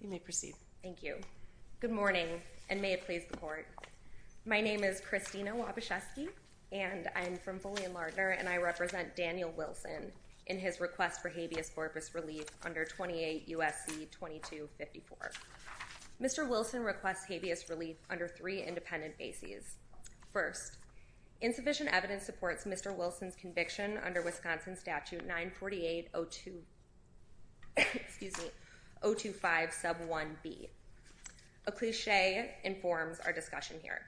You may proceed. Thank you. Good morning, and may it please the Court. My name is Kristina Wabiszewski, and I am from Bullion-Lardner, and I represent Daniel Wilson in his request for habeas corpus relief under 28 U.S.C. 2254. Mr. Wilson requests habeas relief under three independent bases. First, insufficient evidence supports Mr. Wilson's conviction under Wisconsin Statute 948-025 sub 1b. A cliché informs our discussion here.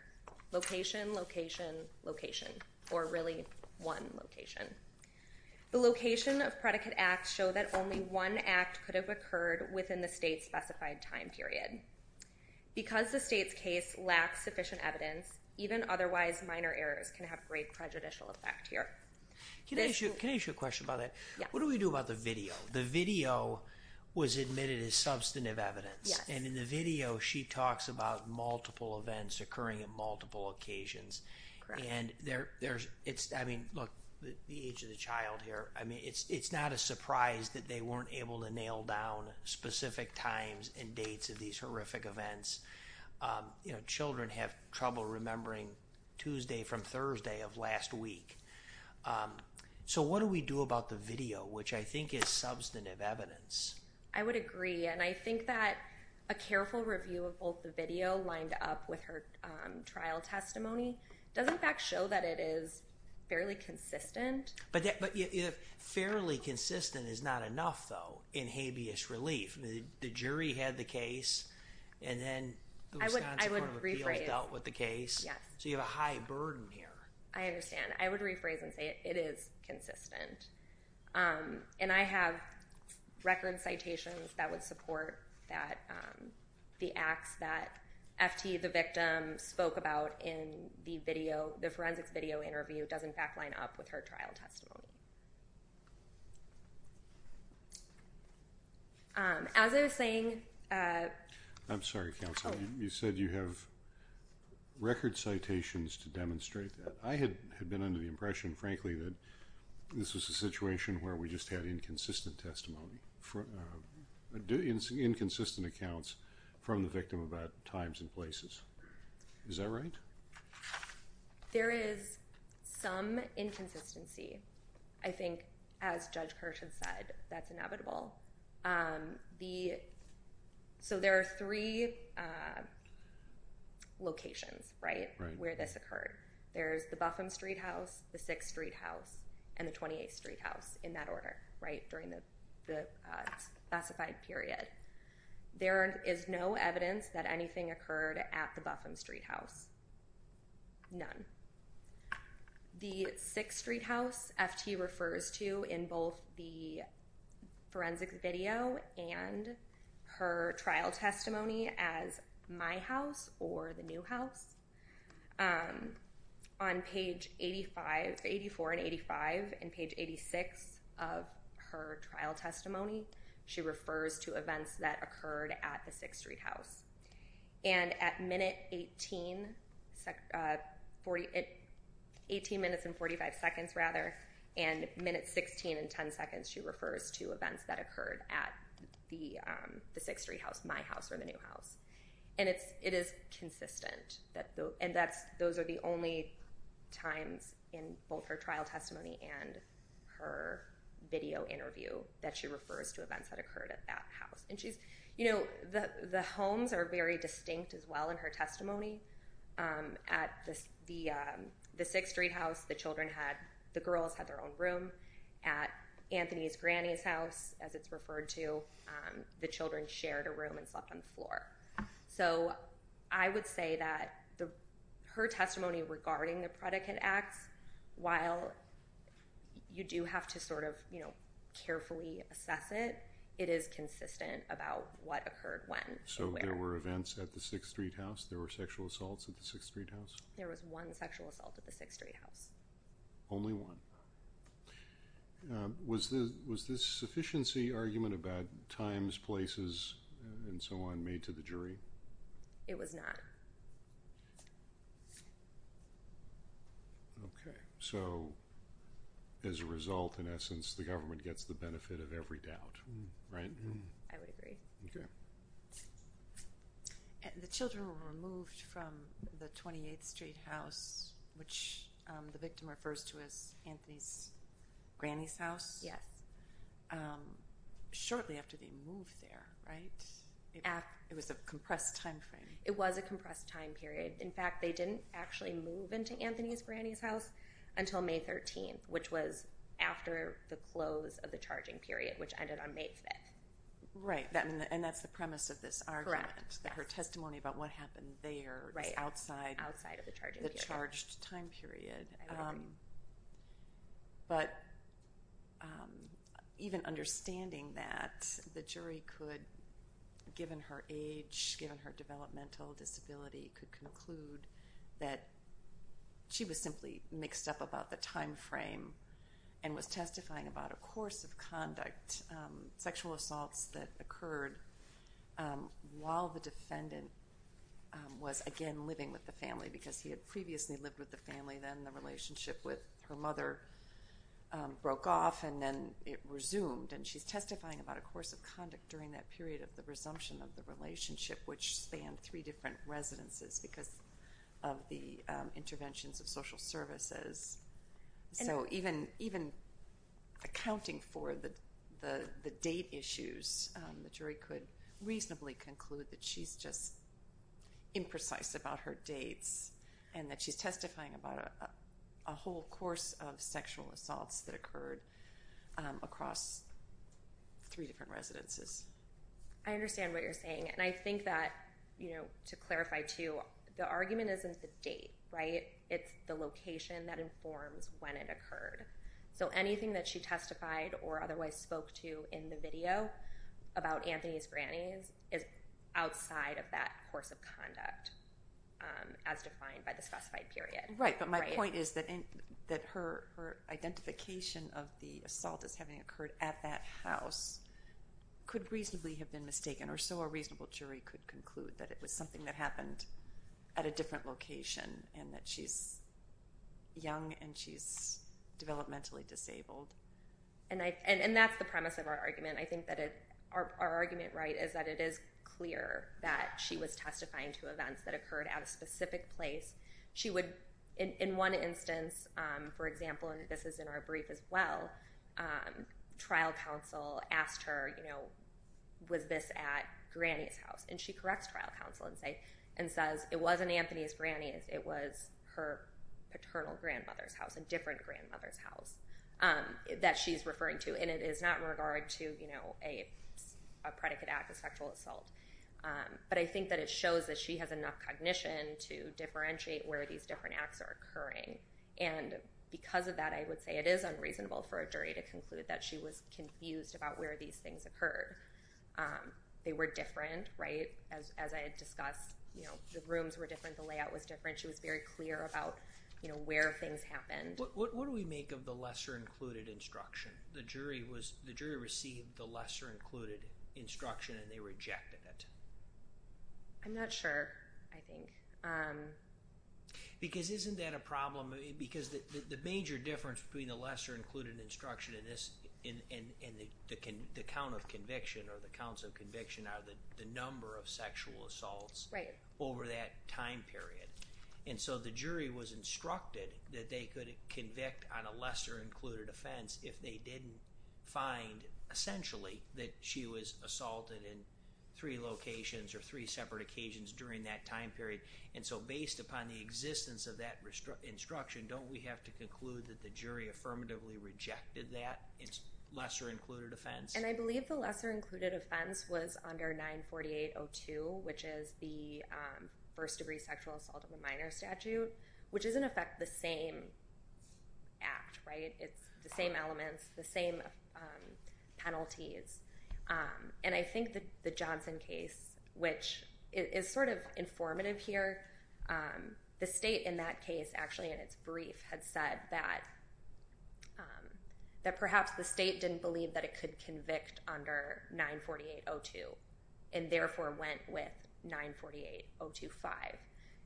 Location, location, location, or really one location. The location of predicate acts show that only one act could have occurred within the state's specified time period. Because the state's case lacks sufficient evidence, even otherwise minor errors can have great prejudicial effect here. Can I ask you a question about that? Yes. What do we do about the video? The video was admitted as substantive evidence. Yes. And in the video, she talks about multiple events occurring at multiple occasions. Correct. And there's, I mean, look, the age of the child here. I mean, it's not a surprise that they weren't able to nail down specific times and dates of these horrific events. You know, children have trouble remembering Tuesday from Thursday of last week. So what do we do about the video, which I think is substantive evidence? I would agree. And I think that a careful review of both the video lined up with her trial testimony does, in fact, show that it is fairly consistent. But fairly consistent is not enough, though, in habeas relief. The jury had the case, and then the Wisconsin Court of Appeals dealt with the case. Yes. So you have a high burden here. I understand. I would rephrase and say it is consistent. And I have record citations that would support the acts that FT, the victim, spoke about in the video. The forensics video interview does, in fact, line up with her trial testimony. As I was saying – I'm sorry, counsel. You said you have record citations to demonstrate that. I had been under the impression, frankly, that this was a situation where we just had inconsistent testimony, inconsistent accounts from the victim about times and places. Is that right? There is some inconsistency. I think, as Judge Kirsch had said, that's inevitable. So there are three locations, right, where this occurred. There's the Buffum Street house, the 6th Street house, and the 28th Street house, in that order, right, during the specified period. There is no evidence that anything occurred at the Buffum Street house. None. The 6th Street house, FT refers to in both the forensics video and her trial testimony as my house or the new house. On page 85, 84 and 85, and page 86 of her trial testimony, she refers to events that occurred at the 6th Street house. And at minute 18, 18 minutes and 45 seconds, rather, and minute 16 and 10 seconds, she refers to events that occurred at the 6th Street house, my house or the new house. And it is consistent. And those are the only times in both her trial testimony and her video interview that she refers to events that occurred at that house. The homes are very distinct as well in her testimony. At the 6th Street house, the girls had their own room. At Anthony's granny's house, as it's referred to, the children shared a room and slept on the floor. So I would say that her testimony regarding the predicate acts, while you do have to sort of, you know, carefully assess it, it is consistent about what occurred when and where. So there were events at the 6th Street house? There were sexual assaults at the 6th Street house? There was one sexual assault at the 6th Street house. Only one. Was this sufficiency argument about times, places, and so on made to the jury? It was not. Okay. So as a result, in essence, the government gets the benefit of every doubt, right? I would agree. Okay. The children were removed from the 28th Street house, which the victim refers to as Anthony's granny's house. Yes. Shortly after they moved there, right? It was a compressed time frame. It was a compressed time period. In fact, they didn't actually move into Anthony's granny's house until May 13th, which was after the close of the charging period, which ended on May 5th. Right. And that's the premise of this argument. Correct. Her testimony about what happened there is outside the charged time period. I agree. But even understanding that, the jury could, given her age, given her developmental disability, could conclude that she was simply mixed up about the time frame and was testifying about a course of conduct. Sexual assaults that occurred while the defendant was, again, living with the family because he had previously lived with the family. Then the relationship with her mother broke off, and then it resumed. And she's testifying about a course of conduct during that period of the resumption of the relationship, which spanned three different residences because of the interventions of social services. So even accounting for the date issues, the jury could reasonably conclude that she's just imprecise about her dates and that she's testifying about a whole course of sexual assaults that occurred across three different residences. I understand what you're saying. And I think that, to clarify, too, the argument isn't the date, right? It's the location that informs when it occurred. So anything that she testified or otherwise spoke to in the video about Anthony's grannies is outside of that course of conduct as defined by the specified period. Right, but my point is that her identification of the assault as having occurred at that house could reasonably have been mistaken, or so a reasonable jury could conclude, that it was something that happened at a different location, and that she's young and she's developmentally disabled. And that's the premise of our argument. I think that our argument is that it is clear that she was testifying to events that occurred at a specific place. She would, in one instance, for example, and this is in our brief as well, trial counsel asked her, you know, was this at granny's house? And she corrects trial counsel and says, it wasn't Anthony's granny's. It was her paternal grandmother's house, a different grandmother's house that she's referring to. And it is not in regard to, you know, a predicate act of sexual assault. But I think that it shows that she has enough cognition to differentiate where these different acts are occurring. And because of that, I would say it is unreasonable for a jury to conclude that she was confused about where these things occurred. They were different, right? As I had discussed, you know, the rooms were different, the layout was different. She was very clear about, you know, where things happened. What do we make of the lesser included instruction? The jury received the lesser included instruction and they rejected it. I'm not sure, I think. Because isn't that a problem? Because the major difference between the lesser included instruction and the count of conviction or the counts of conviction are the number of sexual assaults over that time period. And so the jury was instructed that they could convict on a lesser included offense if they didn't find essentially that she was assaulted in three locations or three separate occasions during that time period. And so based upon the existence of that instruction, don't we have to conclude that the jury affirmatively rejected that lesser included offense? And I believe the lesser included offense was under 948.02, which is the first degree sexual assault of a minor statute, which is, in effect, the same act, right? It's the same elements, the same penalties. And I think the Johnson case, which is sort of informative here, the state in that case, actually in its brief, had said that perhaps the state didn't believe that it could convict under 948.02 and therefore went with 948.025,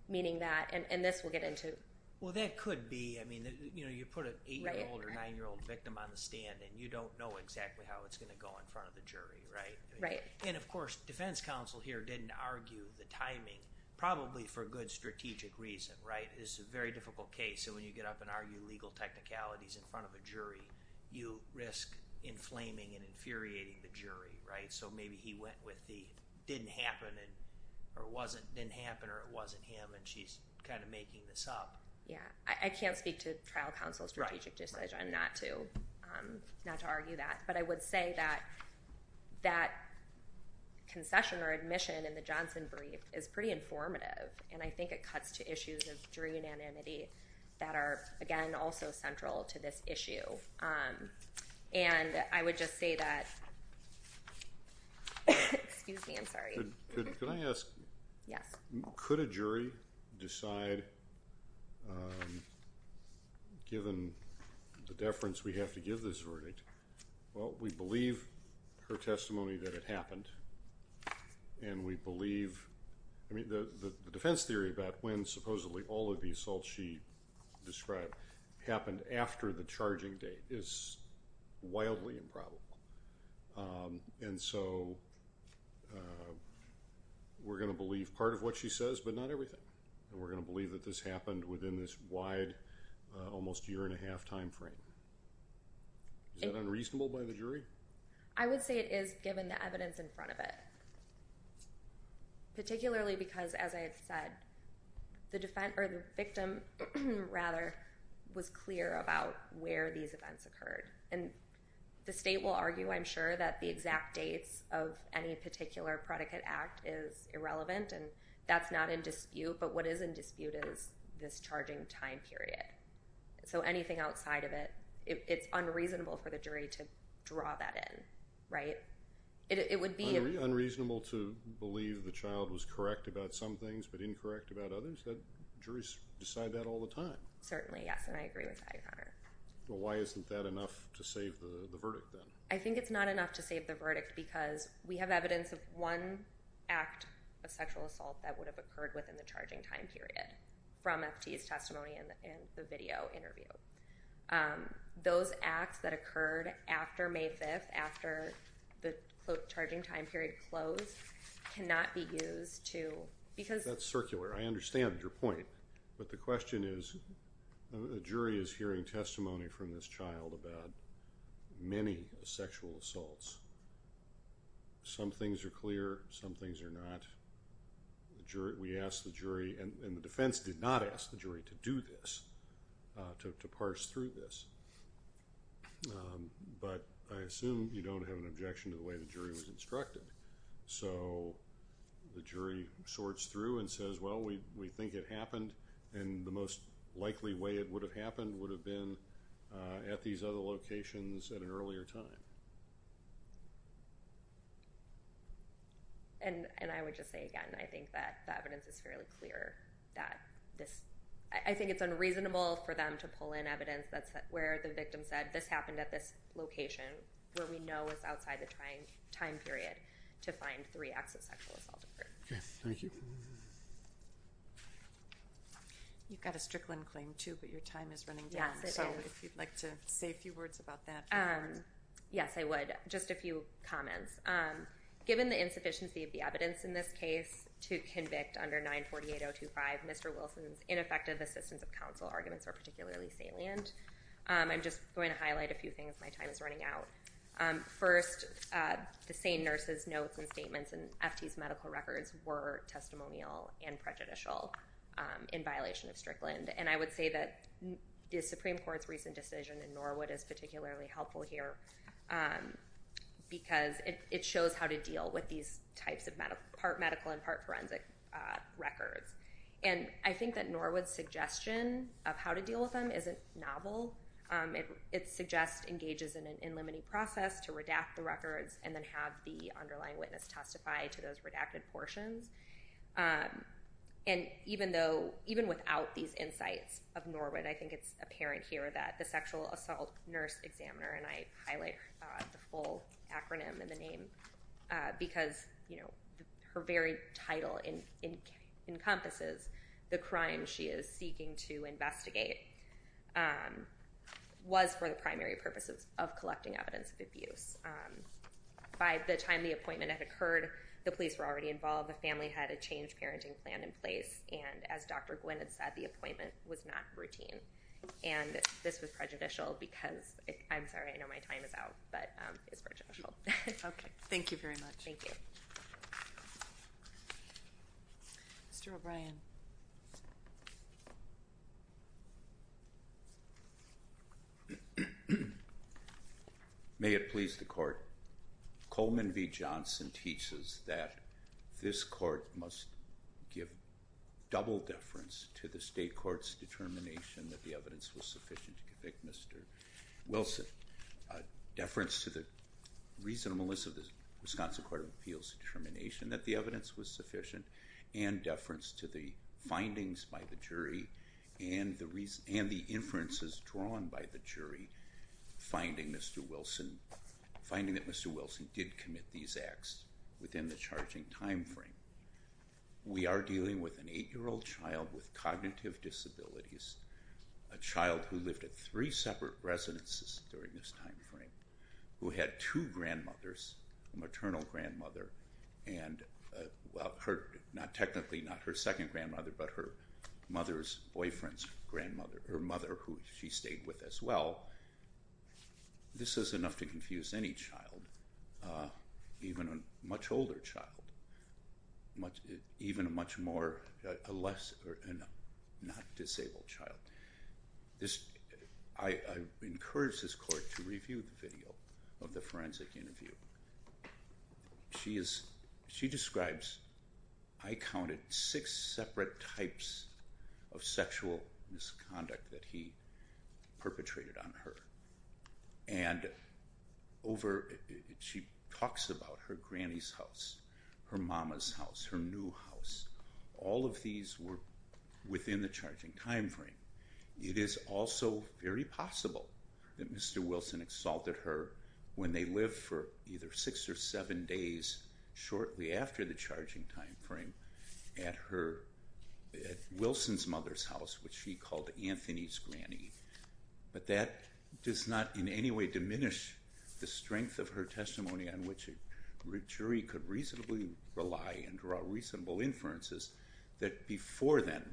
meaning that, and this will get into. Well, that could be. I mean, you know, you put an 8-year-old or 9-year-old victim on the stand and you don't know exactly how it's going to go in front of the jury, right? Right. And, of course, defense counsel here didn't argue the timing, probably for good strategic reason, right? This is a very difficult case, so when you get up and argue legal technicalities in front of a jury, you risk inflaming and infuriating the jury, right? So maybe he went with the didn't happen or it wasn't him, and she's kind of making this up. Yeah. I can't speak to trial counsel's strategic decision not to argue that, but I would say that that concession or admission in the Johnson brief is pretty informative, and I think it cuts to issues of jury unanimity that are, again, also central to this issue. And I would just say that, excuse me, I'm sorry. Could I ask? Yes. Could a jury decide, given the deference we have to give this verdict, well, we believe her testimony that it happened, and we believe, I mean, the defense theory about when supposedly all of the assaults she described happened after the charging date is wildly improbable. And so we're going to believe part of what she says but not everything, and we're going to believe that this happened within this wide, almost year-and-a-half time frame. Is that unreasonable by the jury? I would say it is given the evidence in front of it, particularly because, as I have said, the victim, rather, was clear about where these events occurred, and the state will argue, I'm sure, that the exact dates of any particular predicate act is irrelevant, and that's not in dispute. But what is in dispute is this charging time period. So anything outside of it, it's unreasonable for the jury to draw that in. Right? It would be unreasonable to believe the child was correct about some things but incorrect about others? Juries decide that all the time. Certainly, yes, and I agree with that, Your Honor. Well, why isn't that enough to save the verdict then? I think it's not enough to save the verdict because we have evidence of one act of sexual assault that would have occurred within the charging time period from FT's testimony and the video interview. Those acts that occurred after May 5th, after the charging time period closed, cannot be used to, because- That's circular. I understand your point. But the question is, a jury is hearing testimony from this child about many sexual assaults. Some things are clear, some things are not. We asked the jury, and the defense did not ask the jury to do this, to parse through this. But I assume you don't have an objection to the way the jury was instructed. So the jury sorts through and says, well, we think it happened, and the most likely way it would have happened would have been at these other locations at an earlier time. And I would just say again, I think that the evidence is fairly clear that this- I think it's unreasonable for them to pull in evidence where the victim said, this happened at this location, where we know it's outside the time period to find three acts of sexual assault occurred. Okay. Thank you. You've got a Strickland claim, too, but your time is running down. Yes, it is. So if you'd like to say a few words about that. Yes, I would. Just a few comments. Given the insufficiency of the evidence in this case to convict under 948.025, Mr. Wilson's ineffective assistance of counsel arguments were particularly salient. I'm just going to highlight a few things. My time is running out. First, the SANE nurse's notes and statements in FT's medical records were testimonial and prejudicial in violation of Strickland. And I would say that the Supreme Court's recent decision in Norwood is particularly helpful here because it shows how to deal with these types of medical- part medical and part forensic records. And I think that Norwood's suggestion of how to deal with them isn't novel. It suggests engages in an in-limiting process to redact the records and then have the underlying witness testify to those redacted portions. And even without these insights of Norwood, I think it's apparent here that the sexual assault nurse examiner, and I highlight the full acronym and the name because her very title encompasses the crime she is seeking to investigate, was for the primary purposes of collecting evidence of abuse. By the time the appointment had occurred, the police were already involved, the family had a changed parenting plan in place, and as Dr. Gwynn had said, the appointment was not routine. And this was prejudicial because- I'm sorry, I know my time is out, but it's prejudicial. Okay. Thank you very much. Thank you. Mr. O'Brien. May it please the court. Coleman V. Johnson teaches that this court must give double deference to the state court's determination that the evidence was sufficient to convict Mr. Wilson. Deference to the reasonableness of the Wisconsin Court of Appeals' determination that the evidence was sufficient, and deference to the findings by the jury and the inferences drawn by the jury finding that Mr. Wilson did commit these acts within the charging time frame. We are dealing with an eight-year-old child with cognitive disabilities, a child who lived at three separate residences during this time frame, who had two grandmothers, a maternal grandmother, and not technically her second grandmother, but her mother's boyfriend's grandmother, her mother who she stayed with as well. This is enough to confuse any child, even a much older child, even a much more less or not disabled child. I encourage this court to review the video of the forensic interview. She describes, I counted, six separate types of sexual misconduct that he perpetrated on her. And over, she talks about her granny's house, her mama's house, her new house. All of these were within the charging time frame. It is also very possible that Mr. Wilson exalted her when they lived for either six or seven days shortly after the charging time frame at her, at Wilson's mother's house, which she called Anthony's granny. But that does not in any way diminish the strength of her testimony on which a jury could reasonably rely and draw reasonable inferences that before then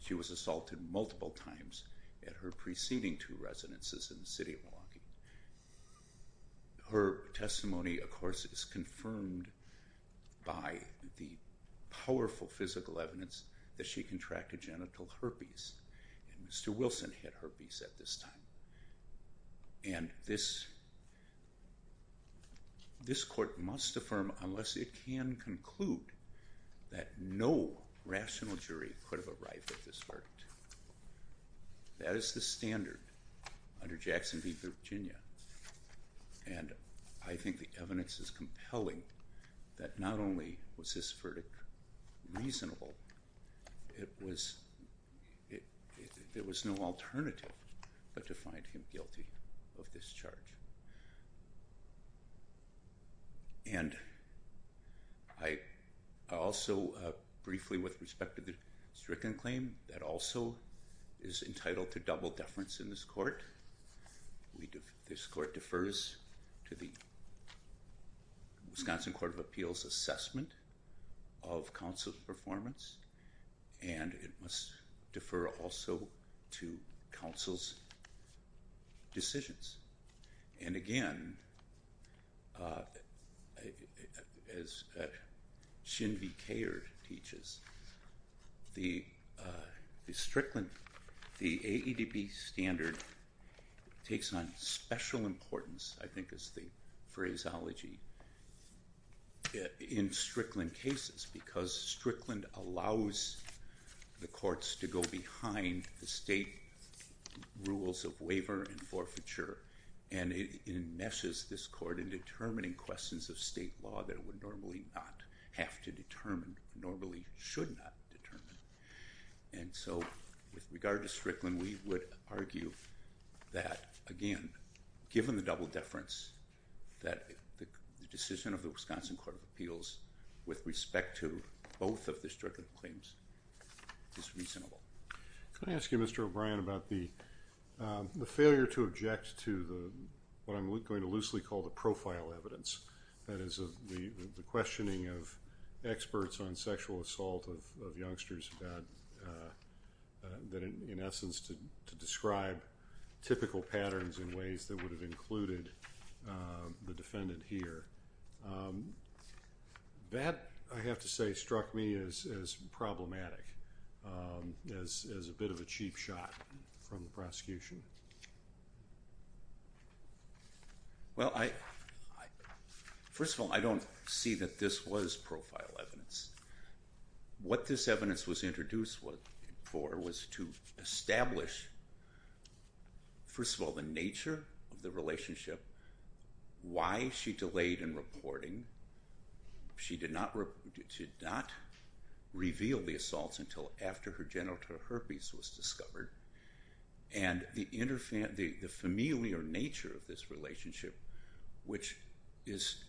she was assaulted multiple times at her preceding two residences in the city of Milwaukee. Her testimony, of course, is confirmed by the powerful physical evidence that she contracted genital herpes. And Mr. Wilson had herpes at this time. And this court must affirm unless it can conclude that no rational jury could have arrived at this verdict. That is the standard under Jackson v. Virginia. And I think the evidence is compelling that not only was this verdict reasonable, it was no alternative but to find him guilty of this charge. And I also briefly, with respect to the Strickland claim, that also is entitled to double deference in this court. This court defers to the Wisconsin Court of Appeals assessment of counsel's performance, and it must defer also to counsel's decisions. And again, as Shin V. Kayer teaches, the AEDB standard takes on special importance, I think is the phraseology, in Strickland cases because Strickland allows the courts to go behind the state rules of waiver and forfeiture, and it enmeshes this court in determining questions of state law that it would normally not have to determine, normally should not determine. And so with regard to Strickland, we would argue that, again, given the double deference, that the decision of the Wisconsin Court of Appeals with respect to both of the Strickland claims is reasonable. Can I ask you, Mr. O'Brien, about the failure to object to what I'm going to loosely call the profile evidence, that is the questioning of experts on sexual assault of youngsters, that, in essence, to describe typical patterns in ways that would have included the defendant here. That, I have to say, struck me as problematic, as a bit of a cheap shot from the prosecution. Well, first of all, I don't see that this was profile evidence. What this evidence was introduced for was to establish, first of all, the nature of the relationship, why she delayed in reporting, she did not reveal the assaults until after her genital herpes was discovered, and the familiar nature of this relationship, which is,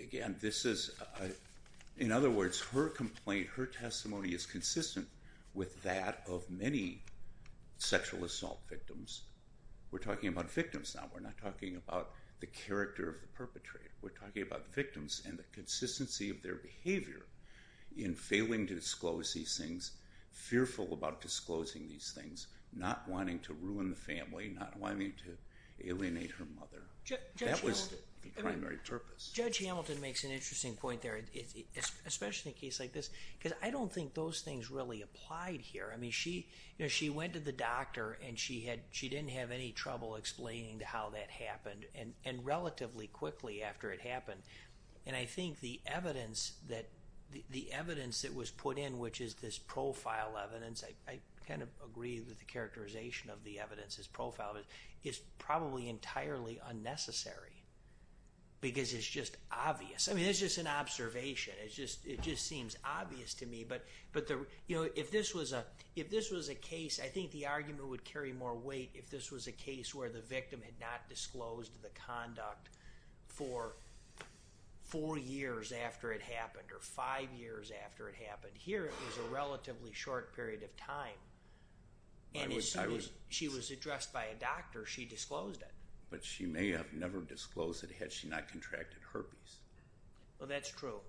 again, this is, in other words, her complaint, her testimony is consistent with that of many sexual assault victims. We're talking about victims now. We're not talking about the character of the perpetrator. We're talking about victims and the consistency of their behavior in failing to disclose these things, fearful about disclosing these things, not wanting to ruin the family, not wanting to alienate her mother. That was the primary purpose. Judge Hamilton makes an interesting point there, especially in a case like this, because I don't think those things really applied here. I mean, she went to the doctor, and she didn't have any trouble explaining how that happened, and relatively quickly after it happened. And I think the evidence that was put in, which is this profile evidence, I kind of agree that the characterization of the evidence, this profile evidence, is probably entirely unnecessary, because it's just obvious. I mean, it's just an observation. It just seems obvious to me. But, you know, if this was a case, I think the argument would carry more weight if this was a case where the victim had not disclosed the conduct for four years after it happened or five years after it happened. Here, it was a relatively short period of time. And as soon as she was addressed by a doctor, she disclosed it. But she may have never disclosed it had she not contracted herpes. Well, that's true.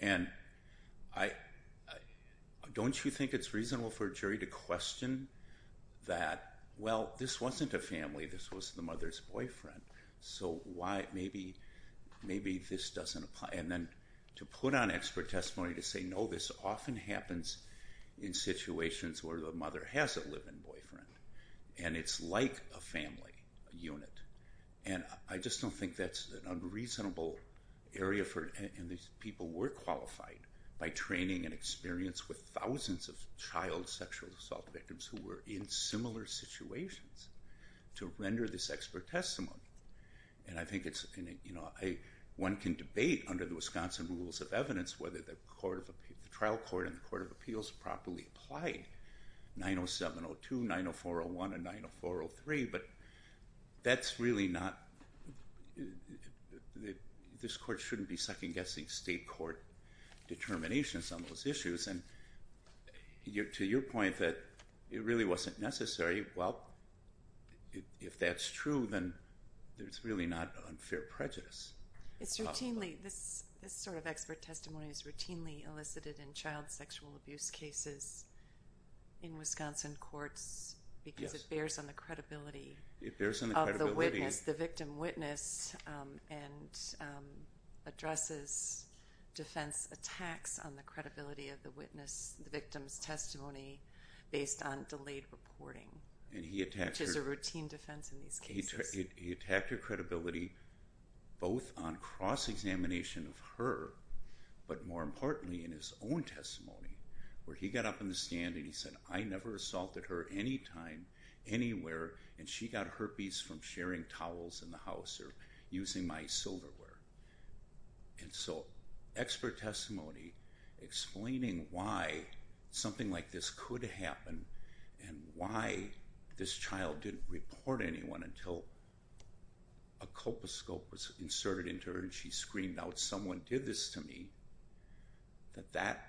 And don't you think it's reasonable for a jury to question that, well, this wasn't a family, this was the mother's boyfriend, so maybe this doesn't apply. And then to put on expert testimony to say, you know, this often happens in situations where the mother has a live-in boyfriend, and it's like a family, a unit. And I just don't think that's an unreasonable area, and these people were qualified by training and experience with thousands of child sexual assault victims who were in similar situations to render this expert testimony. And I think one can debate under the Wisconsin Rules of Evidence whether the trial court and the Court of Appeals properly applied, 907-02, 904-01, and 904-03. But that's really not the ---- this Court shouldn't be second-guessing state court determinations on those issues. And to your point that it really wasn't necessary, well, if that's true, then there's really not unfair prejudice. This sort of expert testimony is routinely elicited in child sexual abuse cases in Wisconsin courts because it bears on the credibility of the witness, the victim witness, and addresses defense attacks on the credibility of the witness, the victim's testimony, based on delayed reporting, which is a routine defense in these cases. He attacked her credibility both on cross-examination of her, but more importantly, in his own testimony, where he got up on the stand and he said, I never assaulted her any time, anywhere, and she got herpes from sharing towels in the house or using my silverware. And so expert testimony explaining why something like this could happen and why this child didn't report anyone until a coposcope was inserted into her and she screamed out, someone did this to me, that that,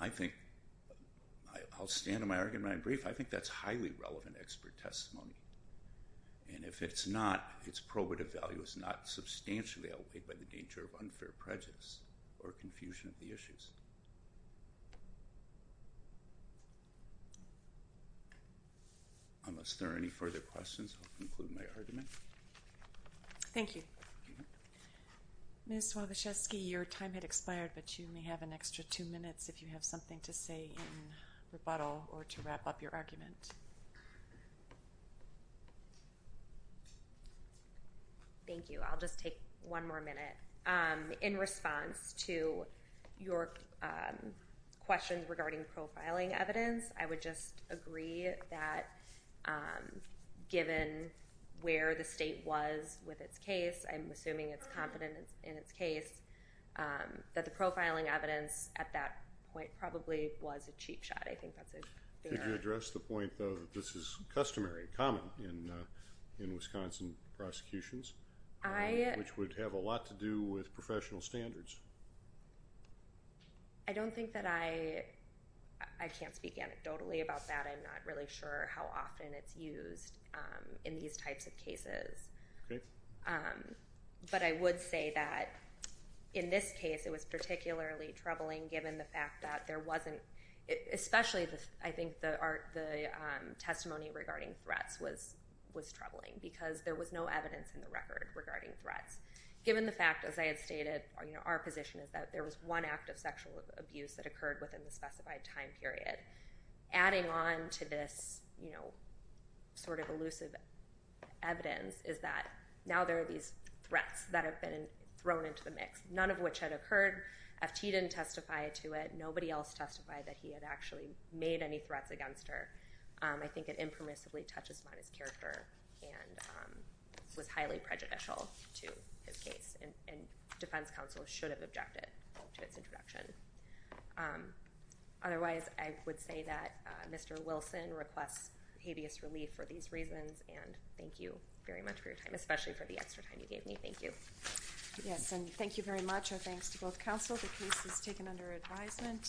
I think, I'll stand on my argument in my brief, I think that's highly relevant expert testimony. And if it's not, its probative value is not substantially outweighed by the danger of unfair prejudice or confusion of the issues. Unless there are any further questions, I'll conclude my argument. Thank you. Ms. Swiatoshevsky, your time had expired, but you may have an extra two minutes if you have something to say in rebuttal or to wrap up your argument. Thank you. I'll just take one more minute. In response to your question regarding profiling evidence, I would just agree that given where the state was with its case, I'm assuming it's confident in its case, that the profiling evidence at that point probably was a cheap shot. Could you address the point, though, that this is customary, common in Wisconsin prosecutions, which would have a lot to do with professional standards? I don't think that I can't speak anecdotally about that. I'm not really sure how often it's used in these types of cases. But I would say that in this case it was particularly troubling given the fact that there wasn't – especially I think the testimony regarding threats was troubling because there was no evidence in the record regarding threats. Given the fact, as I had stated, our position is that there was one act of sexual abuse that occurred within the specified time period, adding on to this sort of elusive evidence is that now there are these threats that have been thrown into the mix, none of which had occurred. FT didn't testify to it. Nobody else testified that he had actually made any threats against her. I think it impermissibly touches on his character and was highly prejudicial to his case, and defense counsel should have objected to its introduction. Otherwise, I would say that Mr. Wilson requests habeas relief for these reasons, and thank you very much for your time, especially for the extra time you gave me. Thank you. Yes, and thank you very much. Our thanks to both counsel. The case is taken under advisement.